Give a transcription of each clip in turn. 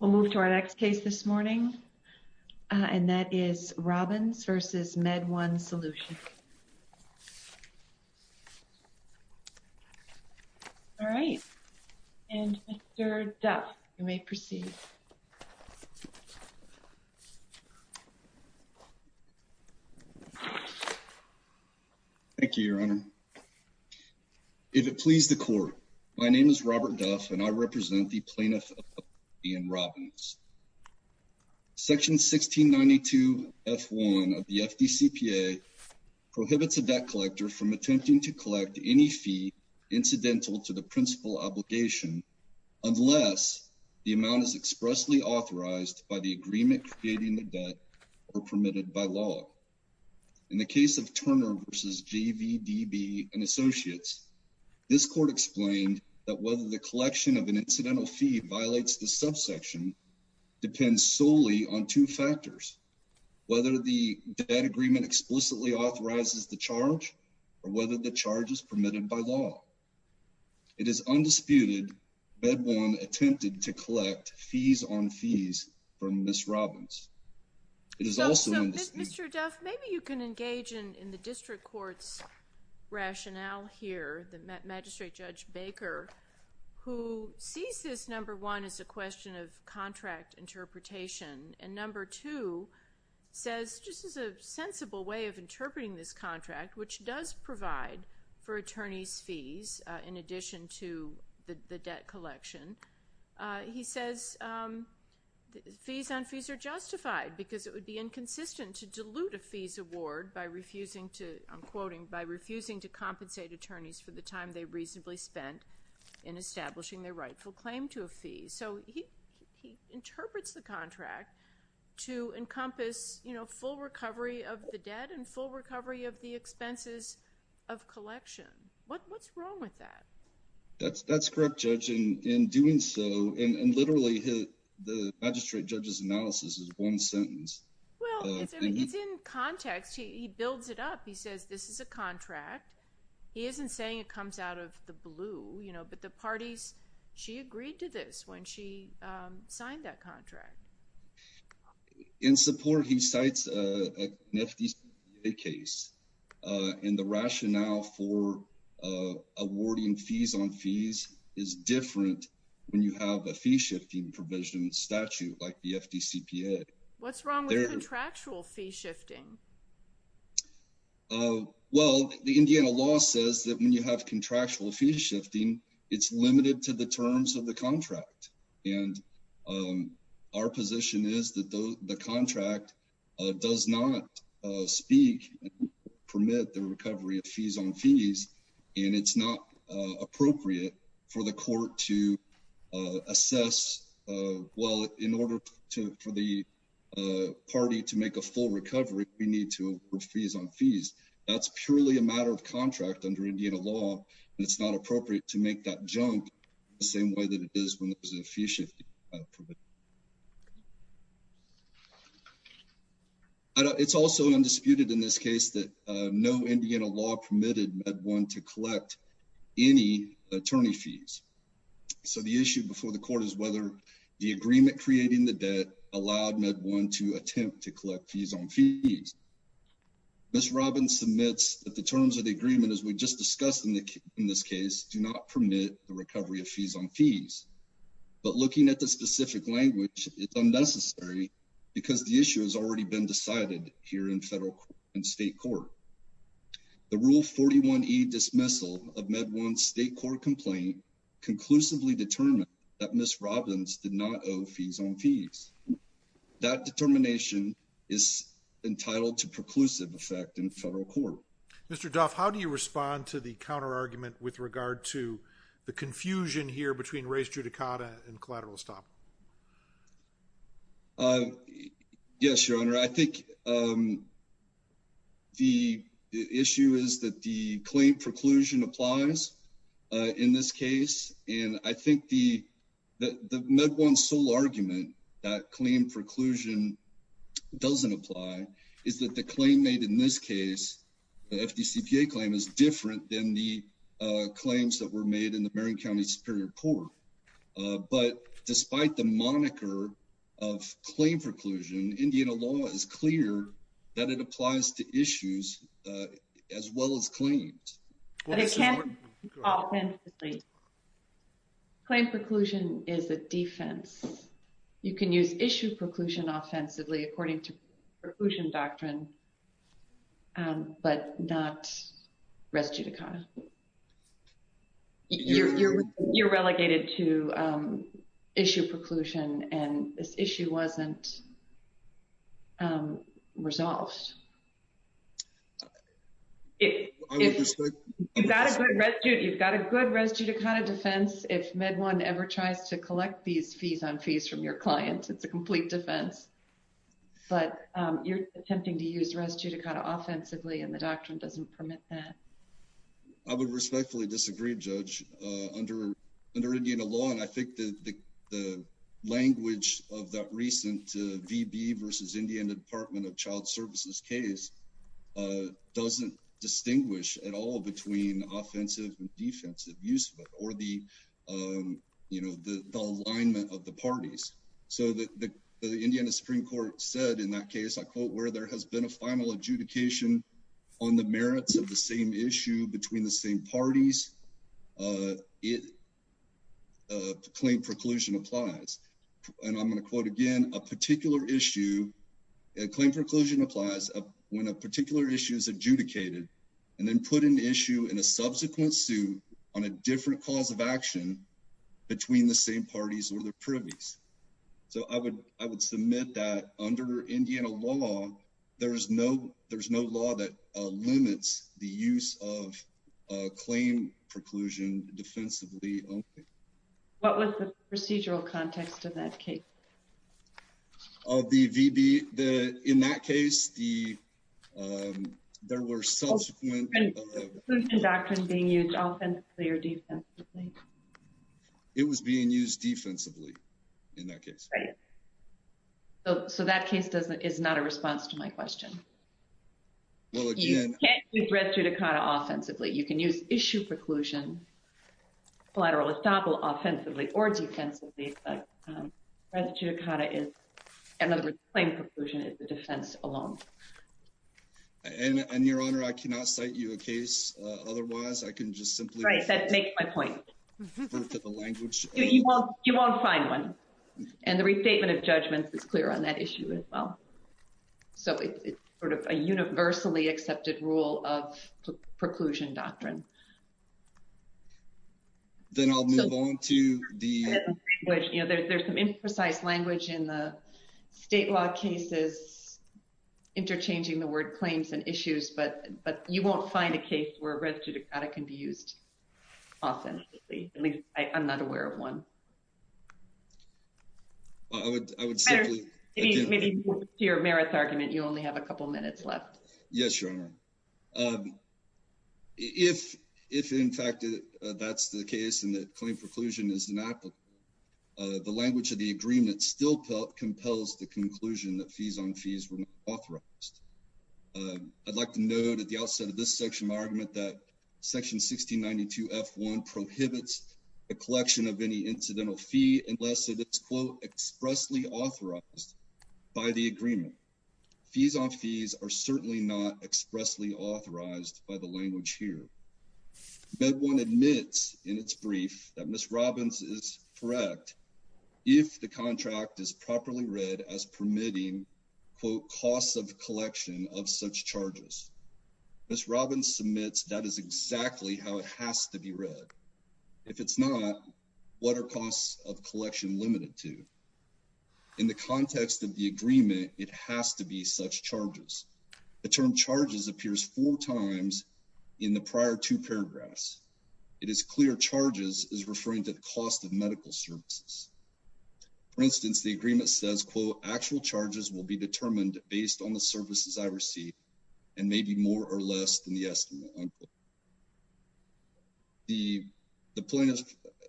We'll move to our next case this morning, and that is Robbins v. Med-1 Solutions. All right, and Mr. Duff, you may proceed. Thank you, Your Honor. If it please the court, my name is Robert Duff, and I represent the plaintiff, Ian Robbins. Section 1692 F-1 of the FDCPA prohibits a debt collector from attempting to collect any fee incidental to the principal obligation, unless the amount is expressly authorized by the agreement creating the debt or permitted by law. In the case of Turner v. JVDB & Associates, this court explained that whether the collection of an incidental fee violates the subsection depends solely on two factors, whether the debt agreement explicitly authorizes the charge or whether the charge is permitted by law. It is undisputed Med-1 attempted to collect fees on fees from Ms. Robbins. It is also- So, Mr. Duff, maybe you can engage in the district court's rationale here, the magistrate, Judge Baker, who sees this, number one, as a question of contract interpretation, and number two says, just as a sensible way of interpreting this contract, which does provide for attorneys fees in addition to the debt collection, he says fees on fees are justified because it would be inconsistent to dilute a fees award by refusing to, I'm quoting, by refusing to compensate attorneys for the time they reasonably spent in establishing their rightful claim to a fee. So he interprets the contract to encompass full recovery of the debt and full recovery of the expenses of collection. What's wrong with that? That's correct, Judge, in doing so, and literally the magistrate judge's analysis is one sentence. Well, it's in context. He builds it up. He says, this is a contract. He isn't saying it comes out of the blue, but the parties, she agreed to this when she signed that contract. In support, he cites an FDCPA case, and the rationale for awarding fees on fees is different when you have a fee-shifting provision statute like the FDCPA. What's wrong with contractual fee-shifting? Well, the Indiana law says that when you have contractual fee-shifting, it's limited to the terms of the contract, and our position is that the contract does not speak and permit the recovery of fees on fees, and it's not appropriate for the court to assess, well, in order for the party to make a full recovery, we need to award fees on fees. That's purely a matter of contract under Indiana law, and it's not appropriate to make that jump the same way that it is when there's a fee-shifting. It's also undisputed in this case that no Indiana law permitted MedOne to collect any attorney fees, so the issue before the court is whether the agreement creating the debt allowed MedOne to attempt to collect fees on fees. Ms. Robbins submits that the terms of the agreement, as we just discussed in this case, do not permit the recovery of fees on fees, but looking at the specific language, it's unnecessary because the issue has already been decided here in federal and state court. The Rule 41E dismissal of MedOne's state court complaint conclusively determined that Ms. Robbins did not owe fees on fees. That determination is entitled to preclusive effect in federal court. Mr. Duff, how do you respond to the counter-argument with regard to the confusion here between race judicata and collateral stop? Yes, Your Honor, I think the issue is that the claim preclusion applies in this case, and I think the MedOne's sole argument that claim preclusion doesn't apply is that the claim made in this case, the FDCPA claim is different than the claims that were made in the Marion County Superior Court, but despite the moniker of claim preclusion, Indiana law is clear that it applies to issues as well as claims. Well, this is what- But it can't be called offensively. Claim preclusion is a defense. You can use issue preclusion offensively according to preclusion doctrine, but not res judicata. You're relegated to issue preclusion, and this issue wasn't resolved. If- I would respect- You've got a good res judicata defense if MedOne ever tries to collect these fees on fees from your clients, it's a complete defense, but you're attempting to use res judicata offensively, and the doctrine doesn't permit that. I would respectfully disagree, Judge. Under Indiana law, and I think the language of that recent VB versus Indiana Department of Child Services case doesn't distinguish at all between offensive and defensive use of it, or the alignment of the parties. So the Indiana Supreme Court said in that case, I quote, where there has been a final adjudication on the merits of the same issue between the same parties, it, claim preclusion applies. And I'm gonna quote again, a particular issue, a claim preclusion applies when a particular issue is adjudicated, and then put an issue in a subsequent suit on a different cause of action between the same parties or the privies. So I would submit that under Indiana law, there is no law that limits the use of claim preclusion defensively only. What was the procedural context of that case? Of the VB, in that case, there were subsequent... Preclusion doctrine being used offensively or defensively? It was being used defensively in that case. Right, so that case is not a response to my question. Well, again- It can't be bred through to kind of offensively, you can use issue preclusion, collateral estoppel offensively or defensively, but res judicata is, in other words, claim preclusion is the defense alone. And Your Honor, I cannot cite you a case otherwise, I can just simply- Right, that makes my point. Go to the language- You won't find one. And the restatement of judgments is clear on that issue as well. So it's sort of a universally accepted rule of preclusion doctrine. Then I'll move on to the- There's some imprecise language in the state law cases, interchanging the word claims and issues, but you won't find a case where res judicata can be used offensively. I'm not aware of one. Well, I would simply- Maybe to your merits argument, you only have a couple minutes left. Yes, Your Honor. If, in fact, that's the case and that claim preclusion is an applicant, the language of the agreement still compels the conclusion that fees on fees were not authorized. I'd like to note at the outset of this section, my argument that section 1692 F1 prohibits the collection of any incidental fee unless it is, quote, expressly authorized by the agreement. Fees on fees are certainly not expressly authorized by the language here. MedOne admits in its brief that Ms. Robbins is correct if the contract is properly read as permitting, quote, costs of collection of such charges. Ms. Robbins submits that is exactly how it has to be read. If it's not, what are costs of collection limited to? In the context of the agreement, it has to be such charges. The term charges appears four times in the prior two paragraphs. It is clear charges is referring to the cost of medical services. For instance, the agreement says, quote, actual charges will be determined based on the services I receive and may be more or less than the estimate, unquote. The plaintiff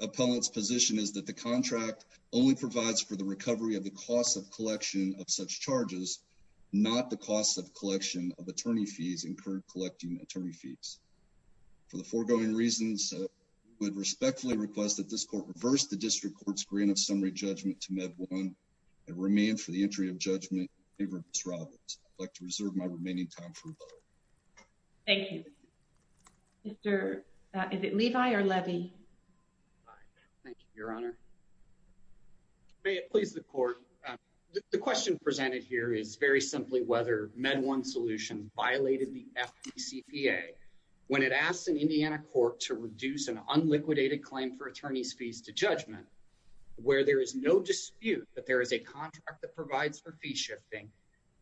appellant's position is that the contract only provides for the recovery of the cost of collection of such charges, not the cost of collection of attorney fees incurred collecting attorney fees. For the foregoing reasons, I would respectfully request that this court reverse the district court's grant of summary judgment to MedOne and remain for the entry of judgment in favor of Ms. Robbins. I'd like to reserve my remaining time for rebuttal. Thank you. Mr., is it Levi or Levy? Thank you, Your Honor. May it please the court. The question presented here is very simply whether MedOne solution violated the FDCPA when it asks an Indiana court to reduce an unliquidated claim for attorney's fees to judgment where there is no dispute that there is a contract that provides for fee shifting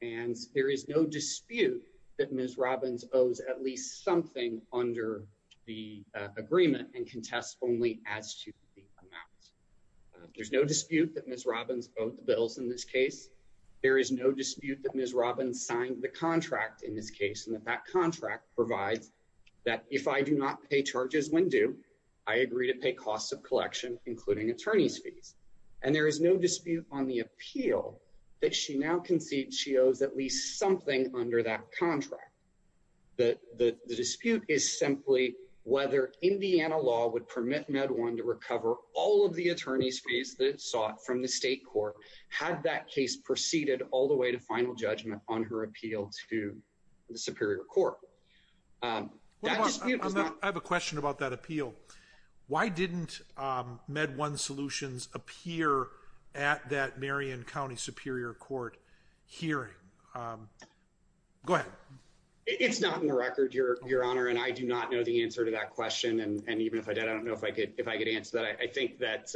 and there is no dispute that Ms. Robbins owes at least something under the agreement and contests only as to the amount. There's no dispute that Ms. Robbins owed the bills in this case. There is no dispute that Ms. Robbins signed the contract in this case and that that contract provides that if I do not pay charges when due, I agree to pay costs of collection, including attorney's fees. And there is no dispute on the appeal that she now concedes she owes at least something under that contract. The dispute is simply whether Indiana law would permit MedOne to recover all of the attorney's fees that it sought from the state court had that case proceeded all the way to final judgment on her appeal to the Superior Court. I have a question about that appeal. Why didn't MedOne solutions appear at that Marion County Superior Court hearing? Go ahead. It's not in the record, Your Honor, and I do not know the answer to that question. And even if I did, I don't know if I could answer that. I think that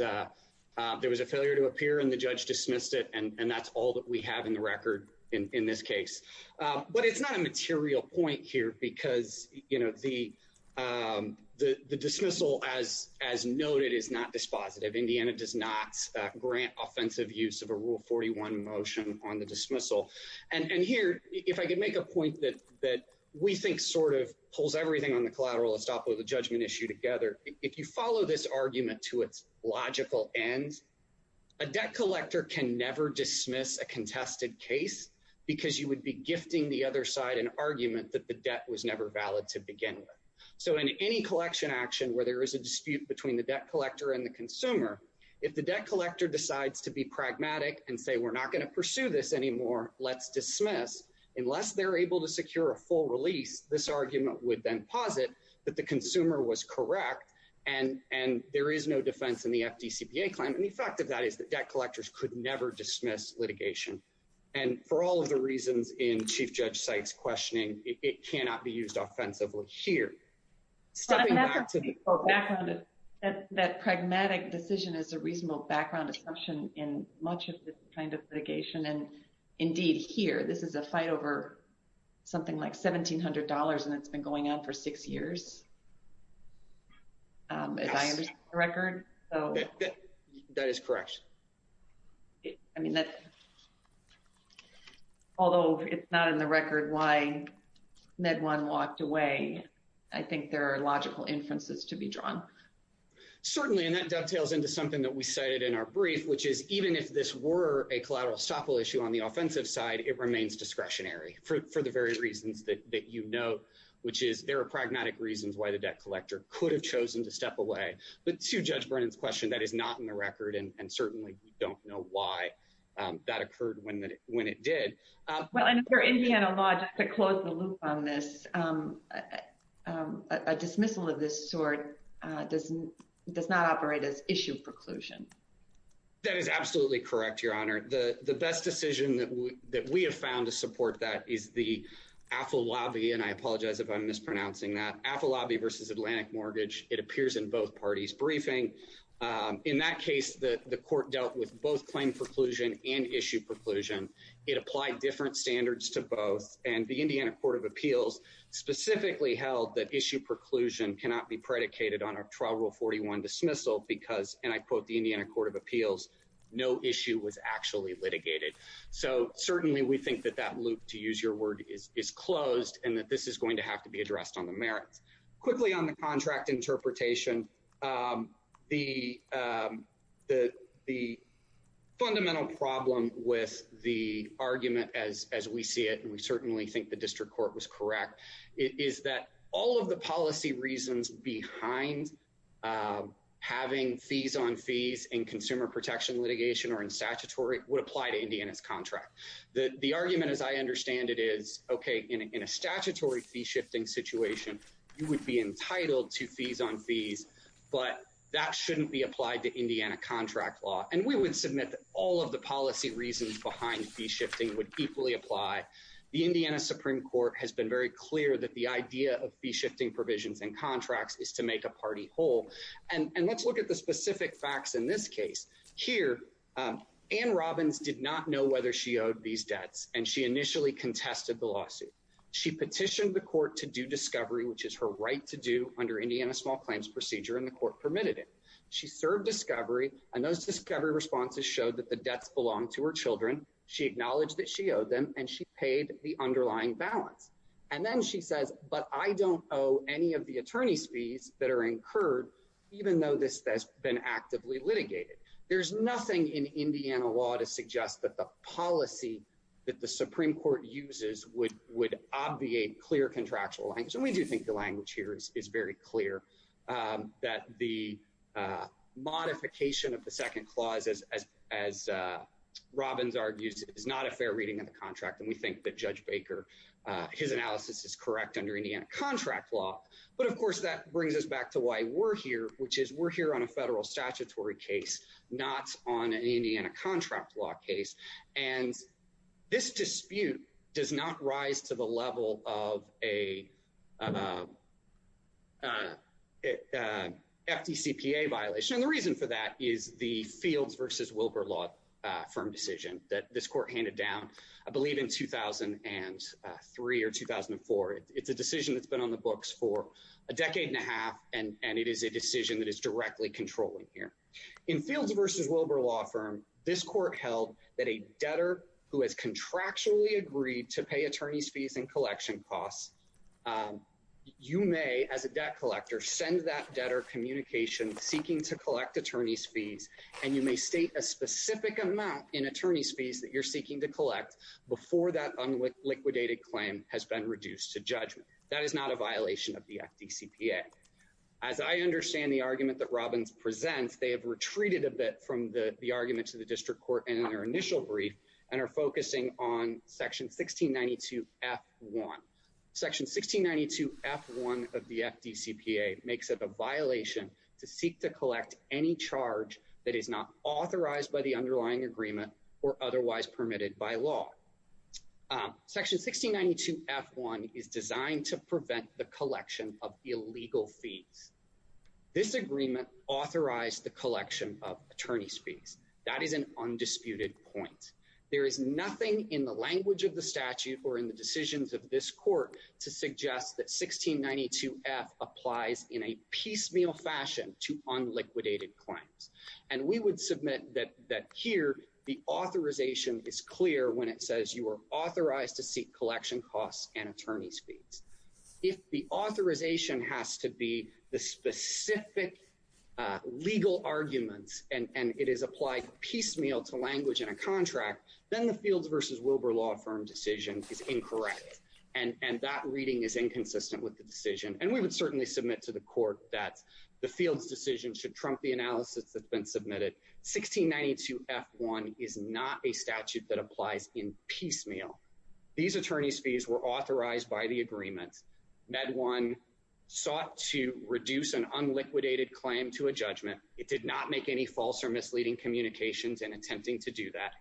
there was a failure to appear and the judge dismissed it. And that's all that we have in the record in this case. But it's not a material point here because the dismissal as noted is not dispositive. Indiana does not grant offensive use of a rule 41 motion on the dismissal. And here, if I could make a point that we think sort of pulls everything on the collateral and stop with the judgment issue together. If you follow this argument to its logical end, a debt collector can never dismiss a contested case because you would be gifting the other side an argument that the debt was never valid to begin with. So in any collection action where there is a dispute between the debt collector and the consumer, if the debt collector decides to be pragmatic and say, we're not gonna pursue this anymore, let's dismiss. Unless they're able to secure a full release, this argument would then posit that the consumer was correct and there is no defense in the FDCPA claim. And the fact of that is that debt collectors could never dismiss litigation. And for all of the reasons in Chief Judge Sykes questioning, it cannot be used offensively here. Stepping back to the quote. That pragmatic decision is a reasonable background assumption in much of this kind of litigation. And indeed here, this is a fight over something like $1,700 and it's been going on for six years. As I understand the record. That is correct. I mean, although it's not in the record why MedOne walked away, I think there are logical inferences to be drawn. Certainly, and that dovetails into something that we cited in our brief, which is even if this were a collateral estoppel issue on the offensive side, it remains discretionary for the very reasons that you know, which is there are pragmatic reasons why the debt collector could have chosen to step away. But to Judge Brennan's question, that is not in the record and certainly we don't know why that occurred when it did. Well, under Indiana law, just to close the loop on this, a dismissal of this sort does not operate as issue preclusion. That is absolutely correct, Your Honor. The best decision that we have found to support that is the AFL-LABI, and I apologize if I'm mispronouncing that. AFL-LABI versus Atlantic Mortgage. It appears in both parties' briefing. In that case, the court dealt with both claim preclusion and issue preclusion. It applied different standards to both, and the Indiana Court of Appeals specifically held that issue preclusion cannot be predicated on a trial rule 41 dismissal because, and I quote the Indiana Court of Appeals, no issue was actually litigated. So certainly we think that that loop, to use your word, is closed and that this is going to have to be addressed on the merits. Quickly on the contract interpretation, the fundamental problem with the argument as we see it, and we certainly think the district court was correct, is that all of the policy reasons behind having fees on fees in consumer protection litigation or in statutory would apply to Indiana's contract. The argument, as I understand it, is okay, in a statutory fee-shifting situation, you would be entitled to fees on fees but that shouldn't be applied to Indiana contract law. And we would submit that all of the policy reasons behind fee-shifting would equally apply. The Indiana Supreme Court has been very clear that the idea of fee-shifting provisions and contracts is to make a party whole. And let's look at the specific facts in this case. Here, Ann Robbins did not know whether she owed these debts and she initially contested the lawsuit. She petitioned the court to do discovery, which is her right to do under Indiana small claims procedure and the court permitted it. She served discovery and those discovery responses showed that the debts belonged to her children. She acknowledged that she owed them and she paid the underlying balance. And then she says, but I don't owe any of the attorney's fees that are incurred, even though this has been actively litigated. There's nothing in Indiana law to suggest that the policy that the Supreme Court uses would obviate clear contractual language. And we do think the language here is very clear that the modification of the second clause, as Robbins argues, is not a fair reading of the contract. And we think that Judge Baker, his analysis is correct under Indiana contract law. But of course, that brings us back to why we're here, which is we're here on a federal statutory case, And this dispute does not rise to the level of a FDCPA violation. And the reason for that is the Fields versus Wilber law firm decision that this court handed down, I believe in 2003 or 2004. It's a decision that's been on the books for a decade and a half. And it is a decision that is directly controlling here. In Fields versus Wilber law firm, this court held that a debtor who has contractually agreed to pay attorney's fees and collection costs, you may as a debt collector, send that debtor communication seeking to collect attorney's fees. And you may state a specific amount in attorney's fees that you're seeking to collect before that unliquidated claim has been reduced to judgment. That is not a violation of the FDCPA. As I understand the argument that Robbins presents, they have retreated a bit from the argument to the district court in their initial brief and are focusing on section 1692 F1. Section 1692 F1 of the FDCPA makes it a violation to seek to collect any charge that is not authorized by the underlying agreement or otherwise permitted by law. Section 1692 F1 is designed to prevent the collection of illegal fees. This agreement authorized the collection of attorney's fees. That is an undisputed point. There is nothing in the language of the statute or in the decisions of this court to suggest that 1692 F applies in a piecemeal fashion to unliquidated claims. And we would submit that here, the authorization is clear when it says you are authorized to seek collection costs and attorney's fees. If the authorization has to be the specific legal arguments and it is applied piecemeal to language in a contract, then the Fields versus Wilbur Law Firm decision is incorrect. And that reading is inconsistent with the decision. And we would certainly submit to the court that the Fields decision should trump the analysis that's been submitted. 1692 F1 is not a statute that applies in piecemeal. These attorney's fees were authorized by the agreement. Med One sought to reduce an unliquidated claim to a judgment. It did not make any false or misleading communications in attempting to do that.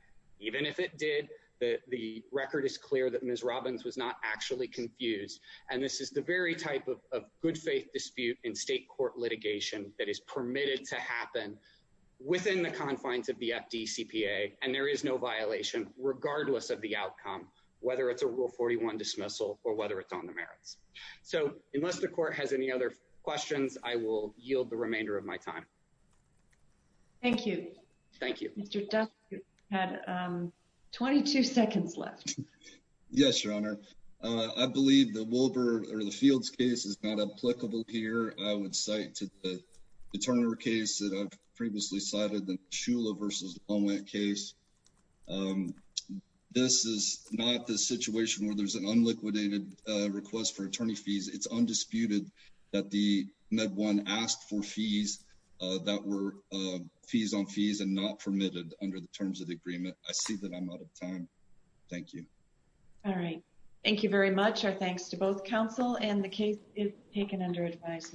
Even if it did, the record is clear that Ms. Robbins was not actually confused. And this is the very type of good faith dispute in state court litigation that is permitted to happen within the confines of the FDCPA. And there is no violation regardless of the outcome, whether it's a Rule 41 dismissal or whether it's on the merits. So unless the court has any other questions, I will yield the remainder of my time. Thank you. Thank you. Mr. Duff, you had 22 seconds left. Yes, Your Honor. I believe the Wilbur or the Fields case is not applicable here. I would cite to the Turner case that I've previously cited, the Shula versus Lomwent case. This is not the situation where there's an unliquidated request for attorney fees. It's undisputed that the Med One asked for fees that were fees on fees and not permitted under the terms of the agreement. I see that I'm out of time. Thank you. All right. Thank you very much. Our thanks to both counsel and the case is taken under advisement.